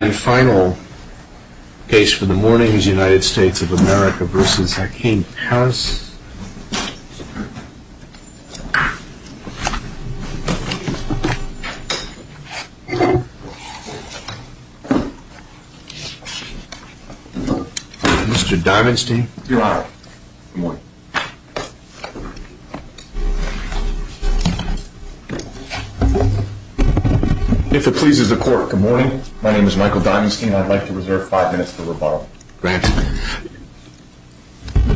And final case for the morning is United States of America v. Hakeem Hass. Mr. Diamonstein. Your Honor. Good morning. If it pleases the court, good morning. My name is Michael Diamonstein. I'd like to reserve five minutes for rebuttal. Go ahead.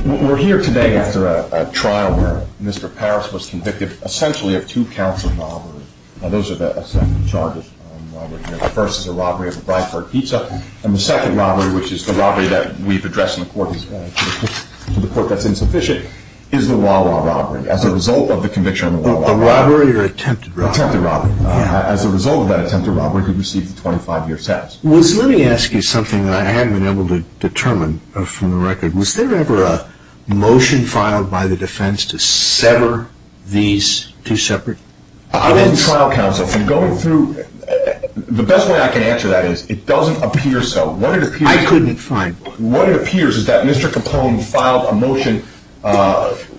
We're here today after a trial where Mr. Paris was convicted essentially of two counts of robbery. Now, those are the charges on robbery here. The first is a robbery of a Bradford pizza, and the second robbery, which is the robbery that we've addressed in the court that's insufficient, is the Wawa robbery. As a result of the conviction on the Wawa robbery. Robbery or attempted robbery. Attempted robbery. Yeah. As a result of that attempted robbery, he received a 25-year sentence. Let me ask you something that I haven't been able to determine from the record. Was there ever a motion filed by the defense to sever these two separate? I wasn't trial counsel. I'm going through. The best way I can answer that is it doesn't appear so. I couldn't find one. What appears is that Mr. Capone filed a motion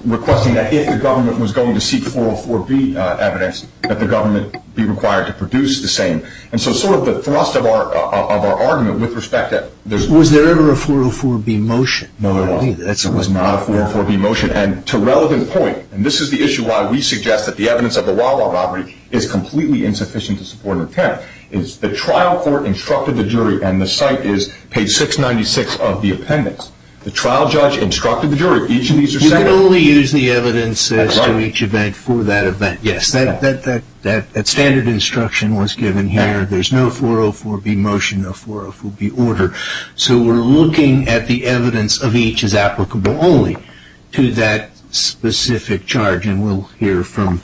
requesting that if the government was going to seek 404B evidence, that the government be required to produce the same. And so sort of the thrust of our argument with respect to that. Was there ever a 404B motion? No, there wasn't. There was not a 404B motion. And to a relevant point, and this is the issue why we suggest that the evidence of the Wawa robbery is completely insufficient to support an attempt, is the trial court instructed the jury. And the site is page 696 of the appendix. The trial judge instructed the jury. Each of these are separate. You can only use the evidence as to each event for that event. Yes. That standard instruction was given here. There's no 404B motion, no 404B order. So we're looking at the evidence of each as applicable only to that specific charge. And we'll hear from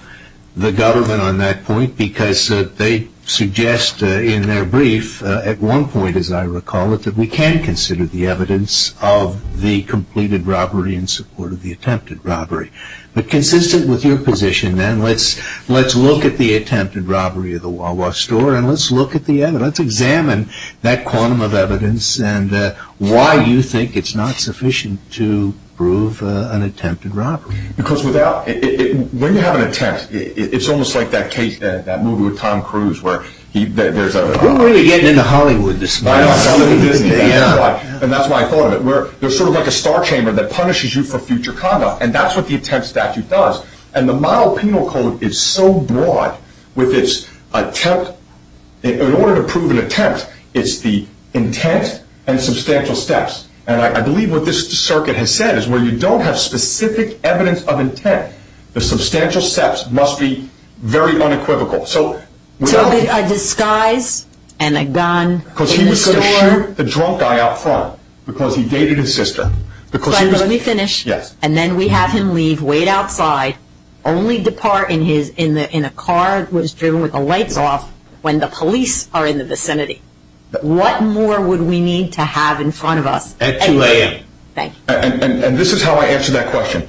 the government on that point because they suggest in their brief at one point, as I recall it, that we can consider the evidence of the completed robbery in support of the attempted robbery. But consistent with your position then, let's look at the attempted robbery of the Wawa store and let's look at the evidence, examine that quantum of evidence and why you think it's not sufficient to prove an attempted robbery. Because when you have an attempt, it's almost like that movie with Tom Cruise where there's a- We're really getting into Hollywood this month. I know. And that's why I thought of it. There's sort of like a star chamber that punishes you for future conduct. And that's what the attempt statute does. And the model penal code is so broad with its attempt. In order to prove an attempt, it's the intent and substantial steps. And I believe what this circuit has said is where you don't have specific evidence of intent, the substantial steps must be very unequivocal. So a disguise and a gun. Because he was going to shoot the drunk guy out front because he dated his sister. Let me finish. Yes. And then we have him leave, wait outside, only depart in a car that was driven with the lights off when the police are in the vicinity. What more would we need to have in front of us? At 2 a.m. Thank you. And this is how I answer that question.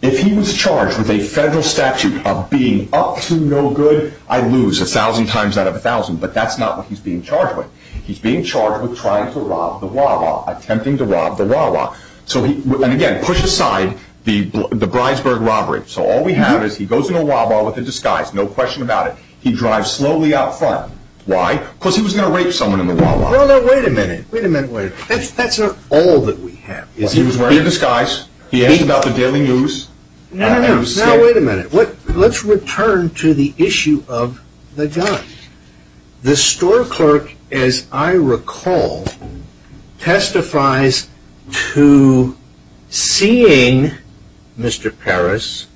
If he was charged with a federal statute of being up to no good, I'd lose 1,000 times out of 1,000. But that's not what he's being charged with. He's being charged with trying to rob the Wawa, attempting to rob the Wawa. And again, push aside the Breisberg robbery. So all we have is he goes in a Wawa with a disguise, no question about it. He drives slowly out front. Why? Because he was going to rape someone in the Wawa. No, no, wait a minute. Wait a minute. That's not all that we have. He was wearing a disguise. He asked about the daily news. No, no, no. Now, wait a minute. Let's return to the issue of the gun. The store clerk, as I recall, testifies to seeing Mr. Parris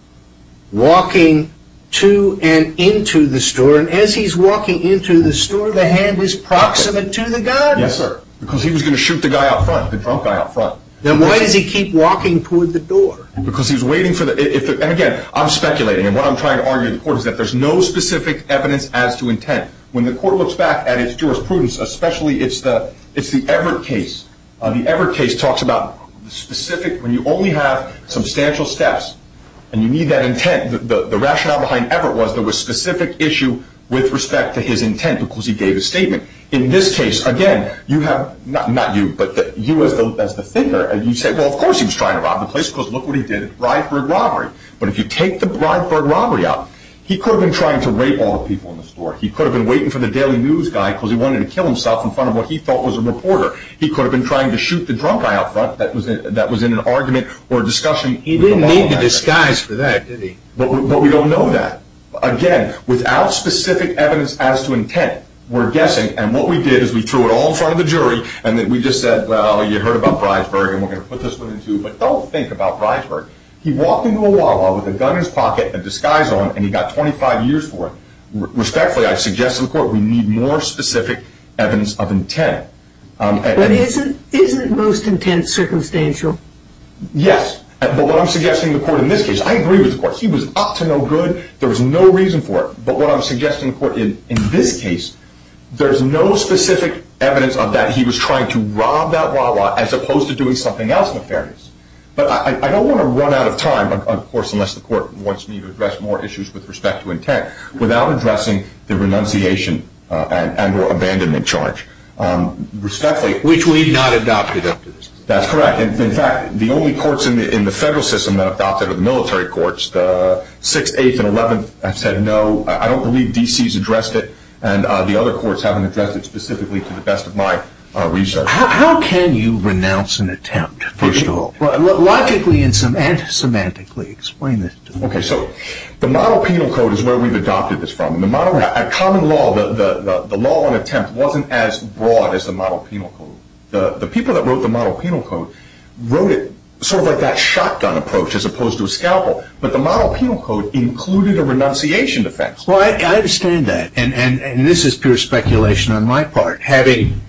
walking to and into the store. And as he's walking into the store, the hand is proximate to the gun? Yes, sir. Because he was going to shoot the guy out front, the drunk guy out front. Then why does he keep walking toward the door? Because he's waiting for the – and again, I'm speculating. And what I'm trying to argue to the court is that there's no specific evidence as to intent. When the court looks back at its jurisprudence, especially it's the Everett case. The Everett case talks about the specific – when you only have substantial steps and you need that intent, the rationale behind Everett was there was a specific issue with respect to his intent because he gave a statement. In this case, again, you have – not you, but you as the figure. And you say, well, of course he was trying to rob the place because look what he did. Brideburg robbery. But if you take the Brideburg robbery out, he could have been trying to rape all the people in the store. He could have been waiting for the daily news guy because he wanted to kill himself in front of what he thought was a reporter. He could have been trying to shoot the drunk guy out front that was in an argument or discussion. He didn't need the disguise for that, did he? But we don't know that. Again, without specific evidence as to intent, we're guessing – and what we did is we threw it all in front of the jury and then we just said, well, you heard about Brideburg and we're going to put this one in too. But don't think about Brideburg. He walked into a Wawa with a gun in his pocket, a disguise on, and he got 25 years for it. Respectfully, I suggest to the court we need more specific evidence of intent. But isn't most intent circumstantial? Yes. But what I'm suggesting to the court in this case – I agree with the court. He was up to no good. There was no reason for it. But what I'm suggesting to the court in this case, there's no specific evidence of that. He was trying to rob that Wawa as opposed to doing something else in the fairness. But I don't want to run out of time, of course, unless the court wants me to address more issues with respect to intent, without addressing the renunciation and or abandonment charge. Respectfully – Which we've not adopted up to this point. That's correct. In fact, the only courts in the federal system that have adopted it are the military courts. The 6th, 8th, and 11th have said no. I don't believe D.C. has addressed it. And the other courts haven't addressed it specifically to the best of my research. How can you renounce an attempt, first of all? Logically and semantically explain this to me. Okay, so the model penal code is where we've adopted this from. At common law, the law on attempt wasn't as broad as the model penal code. The people that wrote the model penal code wrote it sort of like that shotgun approach as opposed to a scalpel. But the model penal code included a renunciation defense. Well, I understand that. And this is pure speculation on my part. Having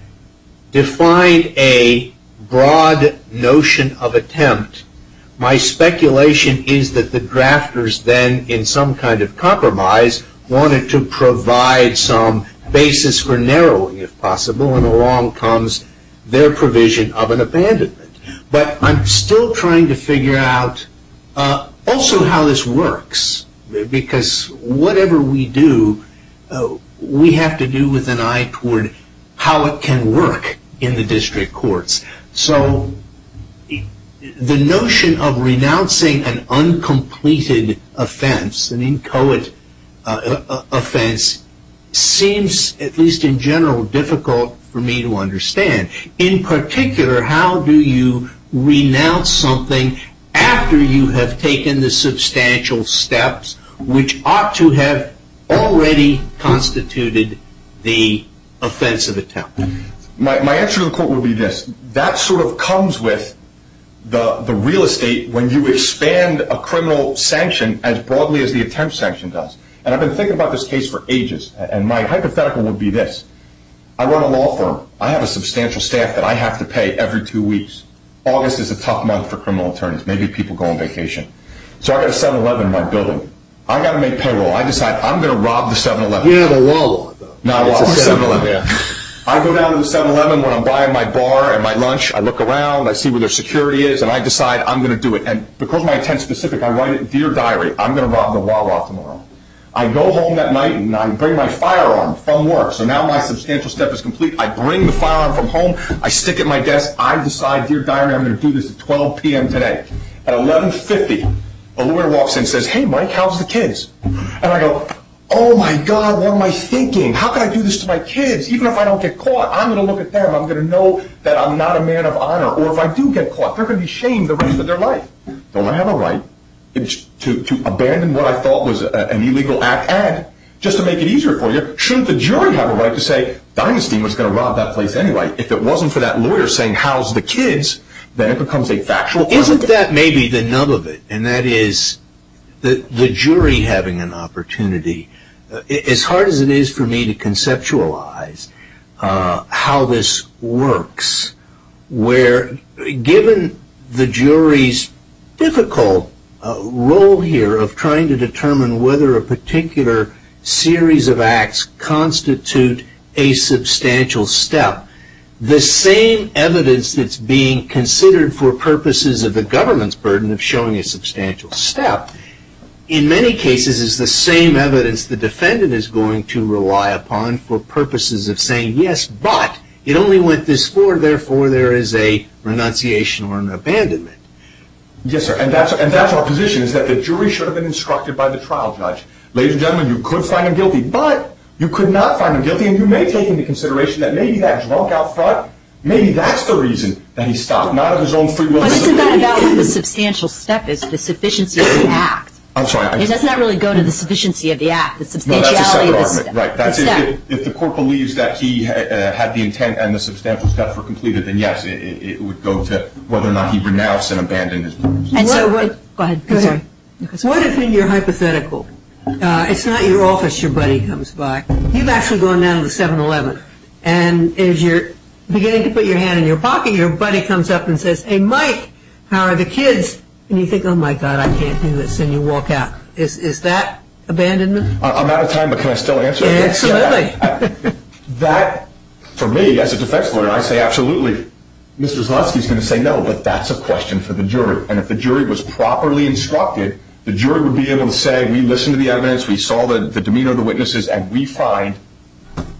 defined a broad notion of attempt, my speculation is that the drafters then, in some kind of compromise, wanted to provide some basis for narrowing, if possible. And along comes their provision of an abandonment. But I'm still trying to figure out also how this works. Because whatever we do, we have to do with an eye toward how it can work in the district courts. So the notion of renouncing an uncompleted offense, an inchoate offense, seems, at least in general, difficult for me to understand. In particular, how do you renounce something after you have taken the substantial steps which ought to have already constituted the offense of attempt? My answer to the court would be this. That sort of comes with the real estate when you expand a criminal sanction as broadly as the attempt sanction does. And I've been thinking about this case for ages. And my hypothetical would be this. I run a law firm. I have a substantial staff that I have to pay every two weeks. August is a tough month for criminal attorneys. Maybe people go on vacation. So I've got a 7-Eleven in my building. I've got to make payroll. I decide I'm going to rob the 7-Eleven. You have a Wawa, though. No, it's a 7-Eleven. I go down to the 7-Eleven when I'm buying my bar and my lunch. I look around. I see where their security is. And I decide I'm going to do it. And because my intent's specific, I write it in Dear Diary, I'm going to rob the Wawa tomorrow. I go home that night and I bring my firearm from work. So now my substantial step is complete. I bring the firearm from home. I stick it in my desk. I decide, Dear Diary, I'm going to do this at 12 p.m. today. At 11.50, a lawyer walks in and says, Hey, Mike, how's the kids? And I go, Oh, my God, what am I thinking? How can I do this to my kids? Even if I don't get caught, I'm going to look at them. I'm going to know that I'm not a man of honor. Or if I do get caught, they're going to be ashamed the rest of their life. Don't I have a right to abandon what I thought was an illegal act? And just to make it easier for you, shouldn't the jury have a right to say, Diamonstein was going to rob that place anyway? If it wasn't for that lawyer saying, How's the kids, then it becomes a factual crime. Isn't that maybe the nub of it? And that is the jury having an opportunity. As hard as it is for me to conceptualize how this works, where given the jury's difficult role here of trying to determine whether a particular series of acts constitute a substantial step, the same evidence that's being considered for purposes of the government's burden of showing a substantial step, in many cases, is the same evidence the defendant is going to rely upon for purposes of saying, Yes, but it only went this far. Therefore, there is a renunciation or an abandonment. Yes, sir. And that's our position, is that the jury should have been instructed by the trial judge. Ladies and gentlemen, you could find him guilty, but you could not find him guilty. And you may take into consideration that maybe that was wrong out front. Maybe that's the reason that he stopped. Not of his own free will. But isn't that about the substantial step is the sufficiency of the act? I'm sorry. It does not really go to the sufficiency of the act. No, that's a separate argument. Right. If the court believes that he had the intent and the substantial step were completed, then yes, it would go to whether or not he renounced and abandoned his burden. Go ahead. I'm sorry. What if in your hypothetical, it's not your office your buddy comes by. You've actually gone down to the 7-Eleven, and as you're beginning to put your hand in your pocket, your buddy comes up and says, hey, Mike, how are the kids? And you think, oh, my God, I can't do this. And you walk out. Is that abandonment? I'm out of time, but can I still answer? Absolutely. That, for me, as a defense lawyer, I say absolutely. Mr. Zlotsky is going to say no, but that's a question for the jury. And if the jury was properly instructed, the jury would be able to say, we listened to the evidence, we saw the demeanor of the witnesses, and we find,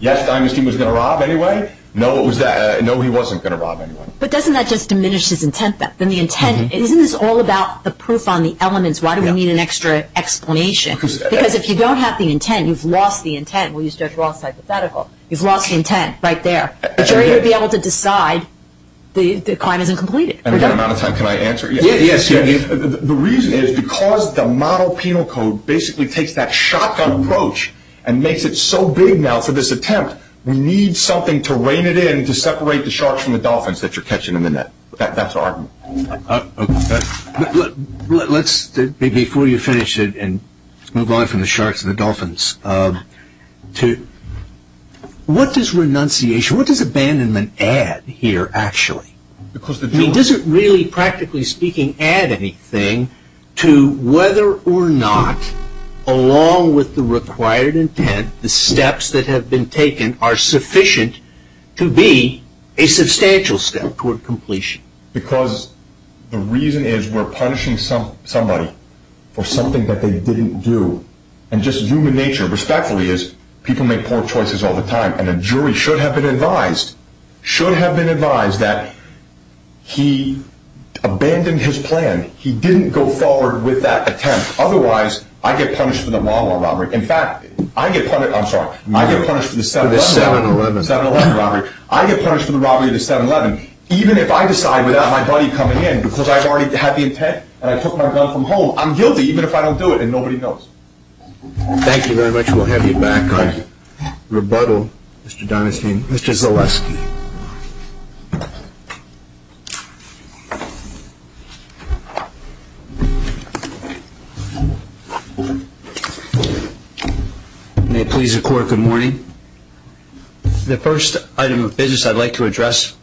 yes, Einstein was going to rob anyway. No, he wasn't going to rob anyway. But doesn't that just diminish his intent then? Isn't this all about the proof on the elements? Why do we need an extra explanation? Because if you don't have the intent, you've lost the intent. We'll use Judge Roth's hypothetical. You've lost the intent right there. The jury would be able to decide the crime isn't completed. And again, I'm out of time. Can I answer? Yes. The reason is because the model penal code basically takes that shotgun approach and makes it so big now for this attempt, we need something to rein it in to separate the sharks from the dolphins that you're catching in the net. That's our argument. Let's, before you finish it and move on from the sharks and the dolphins, what does renunciation, what does abandonment add here actually? I mean, does it really, practically speaking, add anything to whether or not, along with the required intent, the steps that have been taken are sufficient to be a substantial step toward completion? Because the reason is we're punishing somebody for something that they didn't do. And just human nature, respectfully, is people make poor choices all the time. And a jury should have been advised, that he abandoned his plan. He didn't go forward with that attempt. Otherwise, I get punished for the mawa robbery. In fact, I get punished, I'm sorry, I get punished for the 7-Eleven robbery. I get punished for the robbery of the 7-Eleven. Even if I decide without my buddy coming in, because I've already had the intent and I took my gun from home, I'm guilty even if I don't do it, and nobody knows. Thank you very much. We'll have you back on rebuttal. Mr. Donahue. Mr. Zaleski. May it please the Court, good morning. The first item of business I'd like to address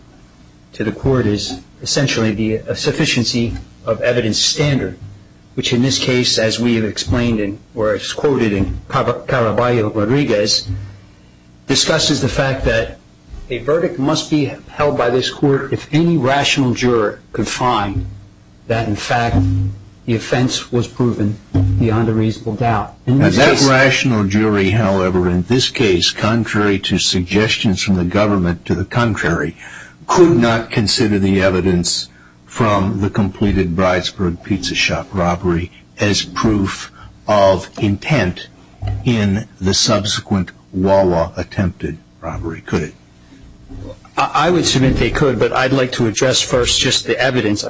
to the Court is essentially the sufficiency of evidence standard, which in this case, as we have explained or as quoted in Caraballo-Rodriguez, discusses the fact that a verdict must be held by this Court if any rational juror could find that in fact the offense was proven beyond a reasonable doubt. And that rational jury, however, in this case, contrary to suggestions from the government to the contrary, could not consider the evidence from the completed Bridesburg Pizza Shop robbery as proof of intent in the subsequent Walla attempted robbery, could it? I would submit they could, but I'd like to address first just the evidence.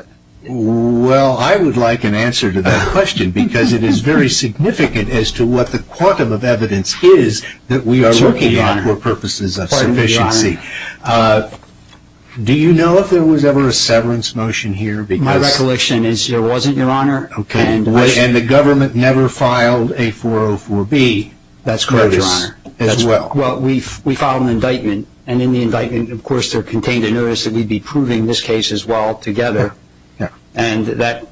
Well, I would like an answer to that question, because it is very significant as to what the quantum of evidence is that we are working on for purposes of sufficiency. Do you know if there was ever a severance motion here? My recollection is there wasn't, Your Honor. Okay. And the government never filed a 404B notice as well. That's correct, Your Honor. Well, we filed an indictment, and in the indictment, of course, there contained a notice that we'd be proving this case as well together. Yeah. And that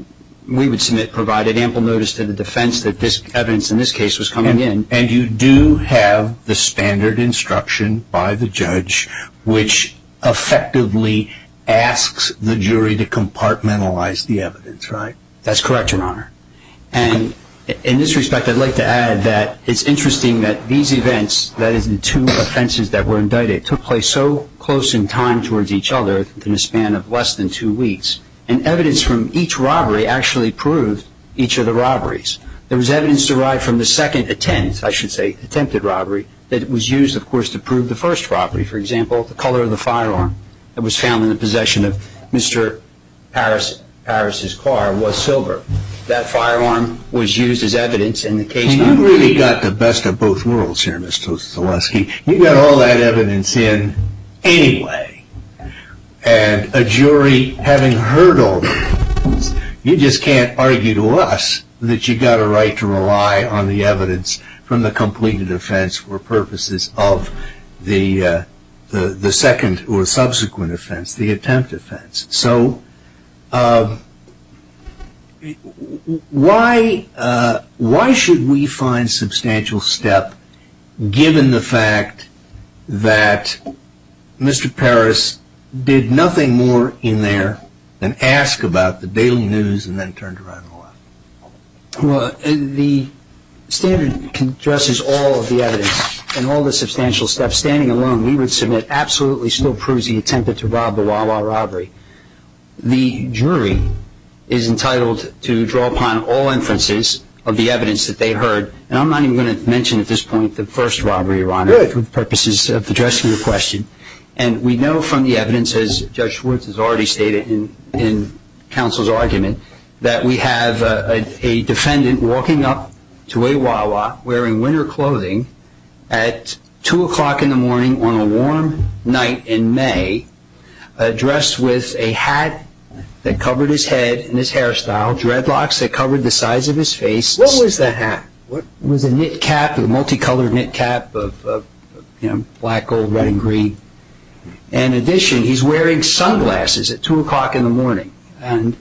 we would submit provided ample notice to the defense that this evidence in this case was coming in. And you do have the standard instruction by the judge, which effectively asks the jury to compartmentalize the evidence, right? That's correct, Your Honor. And in this respect, I'd like to add that it's interesting that these events, that is the two offenses that were indicted, took place so close in time towards each other within a span of less than two weeks, and evidence from each robbery actually proved each of the robberies. There was evidence derived from the second attempt, I should say, attempted robbery, that was used, of course, to prove the first robbery. For example, the color of the firearm that was found in the possession of Mr. Parris's car was silver. That firearm was used as evidence in the case. And you've really got the best of both worlds here, Mr. Zaleski. You got all that evidence in anyway, and a jury having heard all this, you just can't argue to us that you've got a right to rely on the evidence from the completed offense for purposes of the second or subsequent offense, the attempt offense. So why should we find substantial step given the fact that Mr. Parris did nothing more in there than ask about the daily news and then turned around and left? Well, the standard addresses all of the evidence and all the substantial steps. Standing alone, we would submit absolutely still proves the attempt to rob the Wawa robbery. The jury is entitled to draw upon all inferences of the evidence that they heard, and I'm not even going to mention at this point the first robbery, Your Honor, for purposes of addressing your question. And we know from the evidence, as Judge Schwartz has already stated in counsel's argument, that we have a defendant walking up to a Wawa wearing winter clothing at 2 o'clock in the morning on a warm night in May, dressed with a hat that covered his head and his hairstyle, dreadlocks that covered the size of his face. What was that hat? It was a knit cap, a multicolored knit cap of black, gold, red, and green. In addition, he's wearing sunglasses at 2 o'clock in the morning. And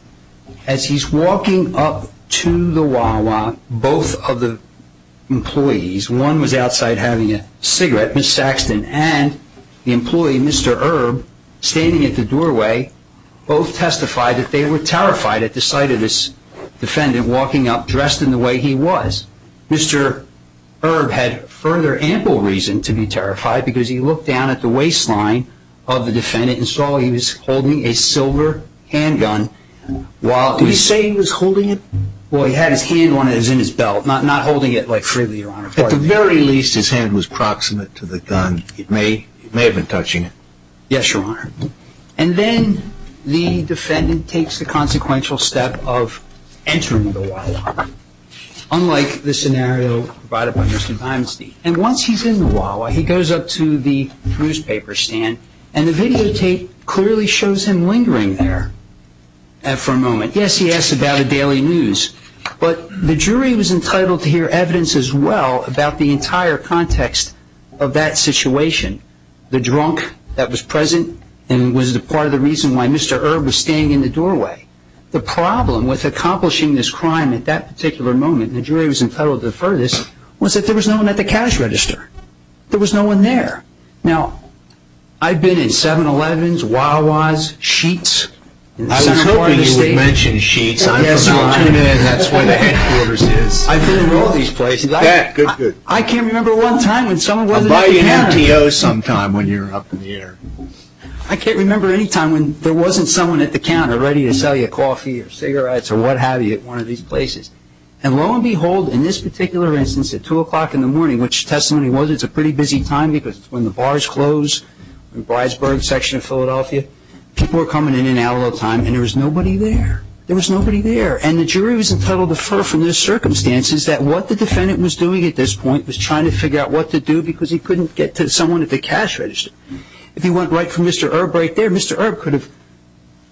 as he's walking up to the Wawa, both of the employees, one was outside having a cigarette, Ms. Saxton, and the employee, Mr. Erb, standing at the doorway, both testified that they were terrified at the sight of this defendant walking up dressed in the way he was. Mr. Erb had further ample reason to be terrified because he looked down at the waistline of the defendant and saw he was holding a silver handgun while... Did he say he was holding it? Well, he had his hand on it, it was in his belt, not holding it freely, Your Honor. At the very least, his hand was proximate to the gun. It may have been touching it. Yes, Your Honor. And then the defendant takes the consequential step of entering the Wawa. Unlike the scenario provided by Mr. Dimestein. And once he's in the Wawa, he goes up to the newspaper stand, and the videotape clearly shows him lingering there for a moment. Yes, he asks about the daily news, but the jury was entitled to hear evidence as well about the entire context of that situation. The drunk that was present and was part of the reason why Mr. Erb was standing in the doorway. The problem with accomplishing this crime at that particular moment, and the jury was entitled to defer this, was that there was no one at the cash register. There was no one there. Now, I've been in 7-Elevens, Wawas, Sheetz. I was hoping you would mention Sheetz. I'm from Argentina and that's where the headquarters is. I've been in all these places. Good, good. I can't remember one time when someone wasn't at the counter. I'll buy you an MTO sometime when you're up in the air. I can't remember any time when there wasn't someone at the counter ready to sell you coffee or cigarettes or what have you at one of these places. And lo and behold, in this particular instance at 2 o'clock in the morning, which testimony was it's a pretty busy time because when the bars close in the Bridesburg section of Philadelphia, people were coming in and out all the time and there was nobody there. There was nobody there. And the jury was entitled to defer from the circumstances that what the defendant was doing at this point was trying to figure out what to do because he couldn't get to someone at the cash register. If he went right for Mr. Erb right there, Mr. Erb could have,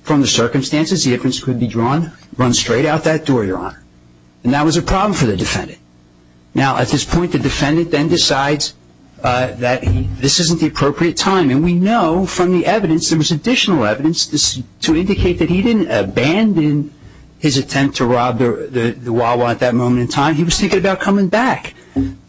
from the circumstances, the evidence could be drawn, run straight out that door, Your Honor. And that was a problem for the defendant. Now, at this point, the defendant then decides that this isn't the appropriate time. And we know from the evidence, there was additional evidence to indicate that he didn't abandon his attempt to rob the Wawa at that moment in time. He was thinking about coming back.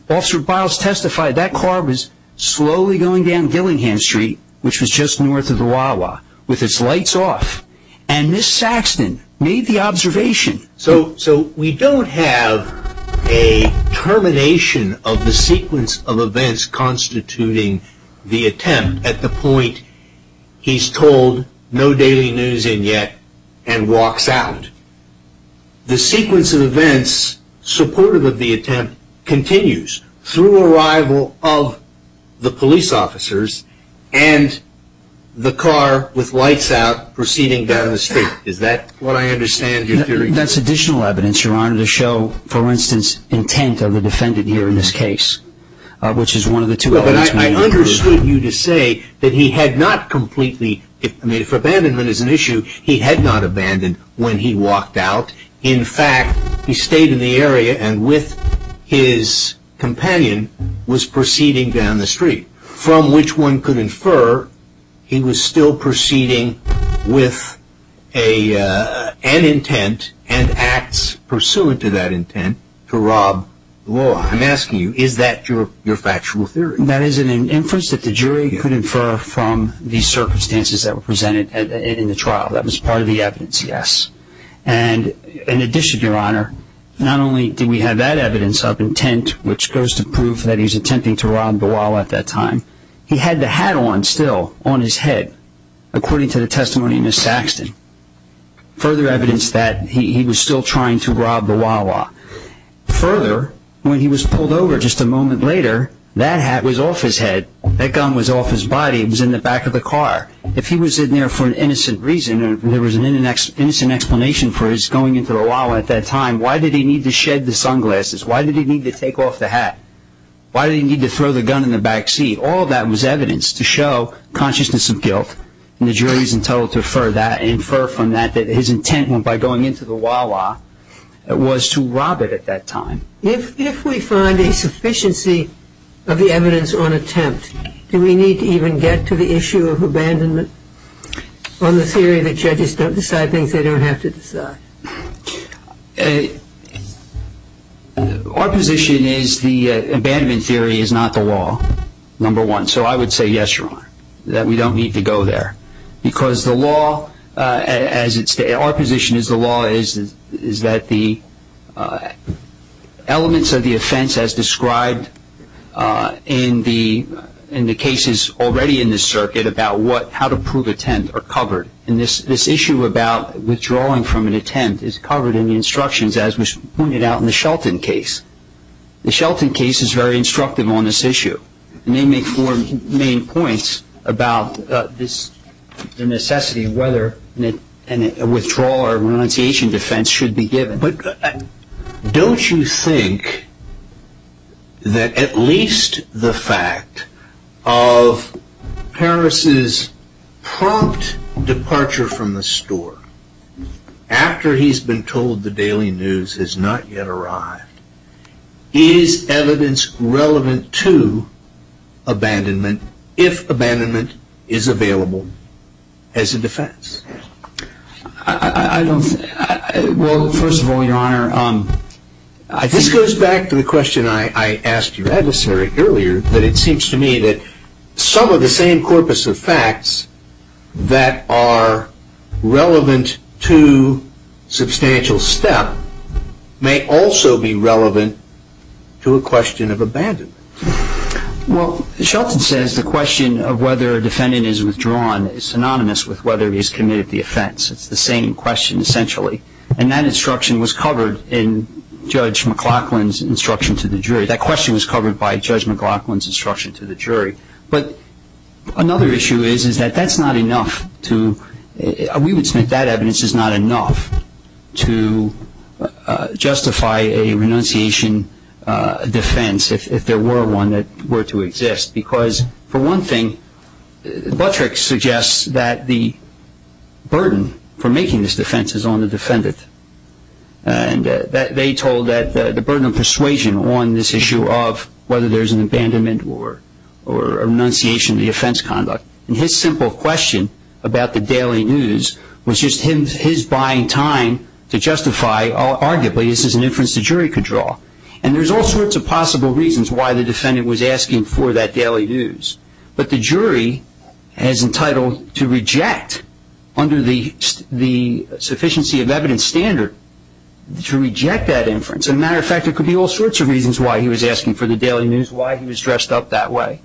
Officer Biles testified that car was slowly going down Gillingham Street, which was just north of the Wawa, with its lights off. And Ms. Saxton made the observation. So we don't have a termination of the sequence of events constituting the attempt at the point he's told no daily news in yet and walks out. The sequence of events supportive of the attempt continues through arrival of the police officers and the car with lights out proceeding down the street. Is that what I understand your theory? That's additional evidence, Your Honor, to show, for instance, intent of the defendant here in this case, which is one of the two events made clear. But I understood you to say that he had not completely – In fact, he stayed in the area and with his companion was proceeding down the street, from which one could infer he was still proceeding with an intent and acts pursuant to that intent to rob the Wawa. I'm asking you, is that your factual theory? That is an inference that the jury could infer from the circumstances that were presented in the trial. That was part of the evidence, yes. And in addition, Your Honor, not only did we have that evidence of intent, which goes to prove that he was attempting to rob the Wawa at that time, he had the hat on still on his head, according to the testimony of Ms. Saxton, further evidence that he was still trying to rob the Wawa. Further, when he was pulled over just a moment later, that hat was off his head. That gun was off his body. It was in the back of the car. If he was in there for an innocent reason, and there was an innocent explanation for his going into the Wawa at that time, why did he need to shed the sunglasses? Why did he need to take off the hat? Why did he need to throw the gun in the back seat? All that was evidence to show consciousness of guilt, and the jury is entitled to infer from that that his intent, by going into the Wawa, was to rob it at that time. If we find a sufficiency of the evidence on attempt, do we need to even get to the issue of abandonment on the theory that judges don't decide things they don't have to decide? Our position is the abandonment theory is not the law, number one. So I would say yes, Ron, that we don't need to go there, because the law, our position is the law is that the elements of the offense as described in the cases already in this circuit about how to prove attempt are covered, and this issue about withdrawing from an attempt is covered in the instructions as was pointed out in the Shelton case. The Shelton case is very instructive on this issue, and they make four main points about this necessity of whether a withdrawal or renunciation defense should be given. But don't you think that at least the fact of Paris' prompt departure from the store after he's been told the daily news has not yet arrived is evidence relevant to abandonment if abandonment is available as a defense? Well, first of all, Your Honor, this goes back to the question I asked your adversary earlier, that it seems to me that some of the same corpus of facts that are relevant to substantial step may also be relevant to a question of abandonment. Well, Shelton says the question of whether a defendant is withdrawn is synonymous with whether he has committed the offense. It's the same question essentially, and that instruction was covered in Judge McLaughlin's instruction to the jury. That question was covered by Judge McLaughlin's instruction to the jury. But another issue is that that's not enough. We would submit that evidence is not enough to justify a renunciation defense if there were one that were to exist because, for one thing, Buttrick suggests that the burden for making this defense is on the defendant. And they told that the burden of persuasion on this issue of whether there's an abandonment or renunciation of the offense conduct. And his simple question about the daily news was just his buying time to justify, arguably, this is an inference the jury could draw. And there's all sorts of possible reasons why the defendant was asking for that daily news. But the jury is entitled to reject, under the sufficiency of evidence standard, to reject that inference. As a matter of fact, there could be all sorts of reasons why he was asking for the daily news, why he was dressed up that way.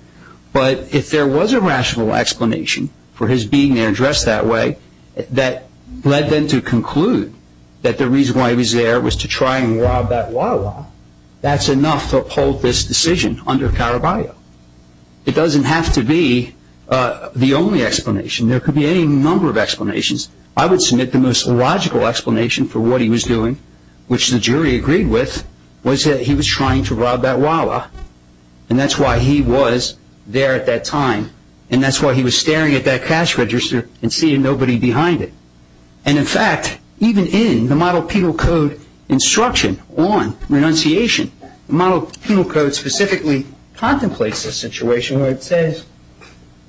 But if there was a rational explanation for his being there dressed that way that led them to conclude that the reason why he was there was to try and rob that Wawa, that's enough to uphold this decision under Caraballo. It doesn't have to be the only explanation. There could be any number of explanations. I would submit the most logical explanation for what he was doing, which the jury agreed with, was that he was trying to rob that Wawa. And that's why he was there at that time. And that's why he was staring at that cash register and seeing nobody behind it. And, in fact, even in the Model Penal Code instruction on renunciation, the Model Penal Code specifically contemplates a situation where it says,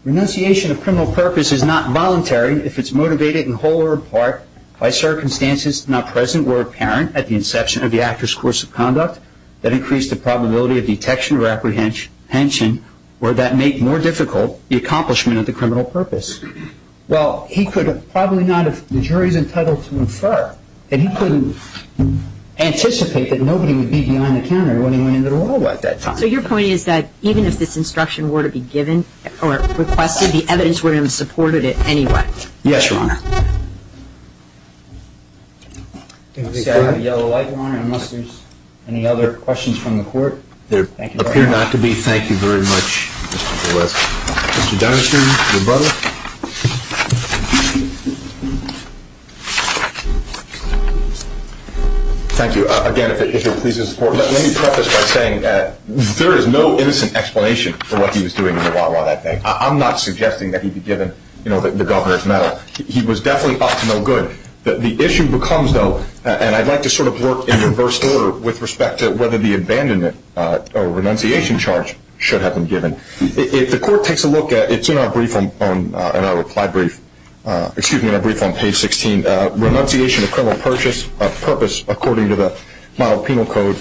renunciation of criminal purpose is not voluntary if it's motivated in whole or in part by circumstances not present or apparent at the inception of the actor's course of conduct that increase the probability of detection or apprehension or that make more difficult the accomplishment of the criminal purpose. Well, he could have probably not, if the jury is entitled to infer, and he couldn't anticipate that nobody would be behind the counter when he went into the Wawa at that time. So your point is that even if this instruction were to be given or requested, the evidence would have supported it anyway? Yes, Your Honor. I'm going to say I have a yellow light, Your Honor, unless there's any other questions from the court. There appear not to be. Thank you very much, Mr. Valesky. Mr. Donahue, your brother. Thank you. Again, if it pleases the court, let me preface by saying that there is no innocent explanation for what he was doing in the Wawa that day. I'm not suggesting that he be given the Governor's Medal. He was definitely up to no good. The issue becomes, though, and I'd like to sort of work in reverse order with respect to whether the abandonment or renunciation charge should have been given. If the court takes a look at it, it's in our brief on page 16, renunciation of criminal purpose according to the model penal code.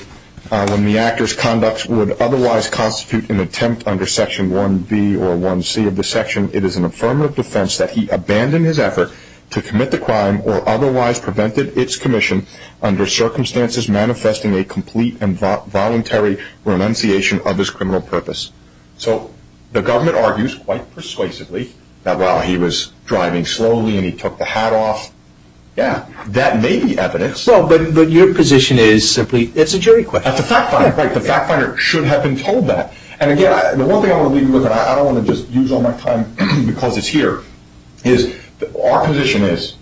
When the actor's conduct would otherwise constitute an attempt under Section 1B or 1C of the section, it is an affirmative defense that he abandoned his effort to commit the crime or otherwise prevented its commission under circumstances manifesting a complete and voluntary renunciation of his criminal purpose. So the government argues quite persuasively that while he was driving slowly and he took the hat off, yeah, that may be evidence. But your position is simply it's a jury question. That's a fact finder. The fact finder should have been told that. And again, the one thing I want to leave you with, and I don't want to just use all my time because it's here, is our position is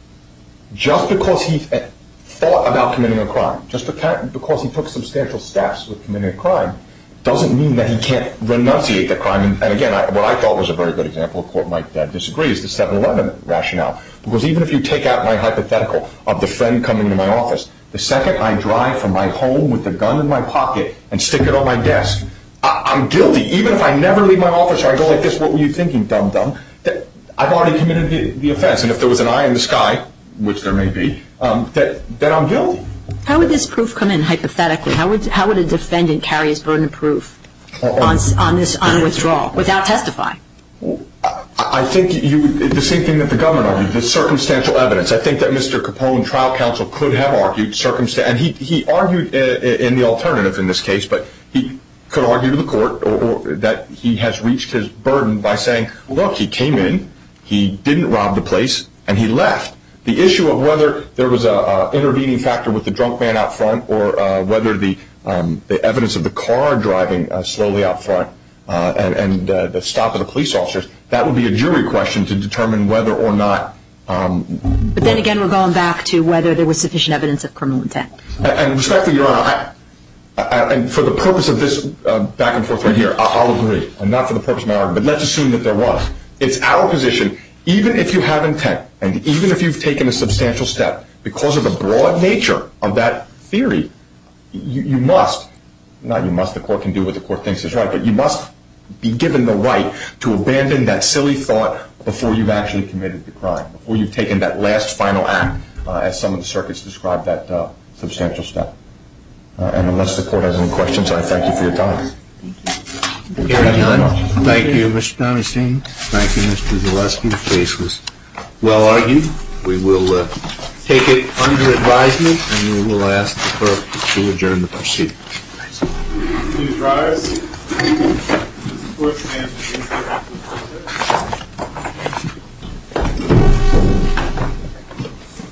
just because he thought about committing a crime, just because he took substantial steps with committing a crime, doesn't mean that he can't renunciate the crime. And again, what I thought was a very good example, a court might disagree, is the 7-11 rationale. Because even if you take out my hypothetical of the friend coming to my office, the second I drive from my home with a gun in my pocket and stick it on my desk, I'm guilty. Even if I never leave my office or I go like this, what were you thinking, dum-dum? I've already committed the offense. And if there was an eye in the sky, which there may be, then I'm guilty. How would this proof come in, hypothetically? How would a defendant carry his burden of proof on withdrawal without testifying? I think the same thing that the government argued, the circumstantial evidence. I think that Mr. Capone, trial counsel, could have argued circumstantial. And he argued in the alternative in this case, but he could argue to the court that he has reached his burden by saying, look, he came in, he didn't rob the place, and he left. The issue of whether there was an intervening factor with the drunk man out front or whether the evidence of the car driving slowly out front and the stop of the police officers, that would be a jury question to determine whether or not. But then again, we're going back to whether there was sufficient evidence of criminal intent. And respectfully, Your Honor, for the purpose of this back and forth right here, I'll agree. And not for the purpose of my argument, but let's assume that there was. It's our position, even if you have intent and even if you've taken a substantial step, because of the broad nature of that theory, you must, not you must, the court can do what the court thinks is right, but you must be given the right to abandon that silly thought before you've actually committed the crime, before you've taken that last final act as some of the circuits describe that substantial step. And unless the court has any questions, I thank you for your time. Thank you. Thank you. Thank you, Mr. Donahue-Singh. Thank you, Mr. Zaleski. The case was well argued. We will take it under advisement and we will ask the clerk to adjourn the proceeding. Thank you. Please rise.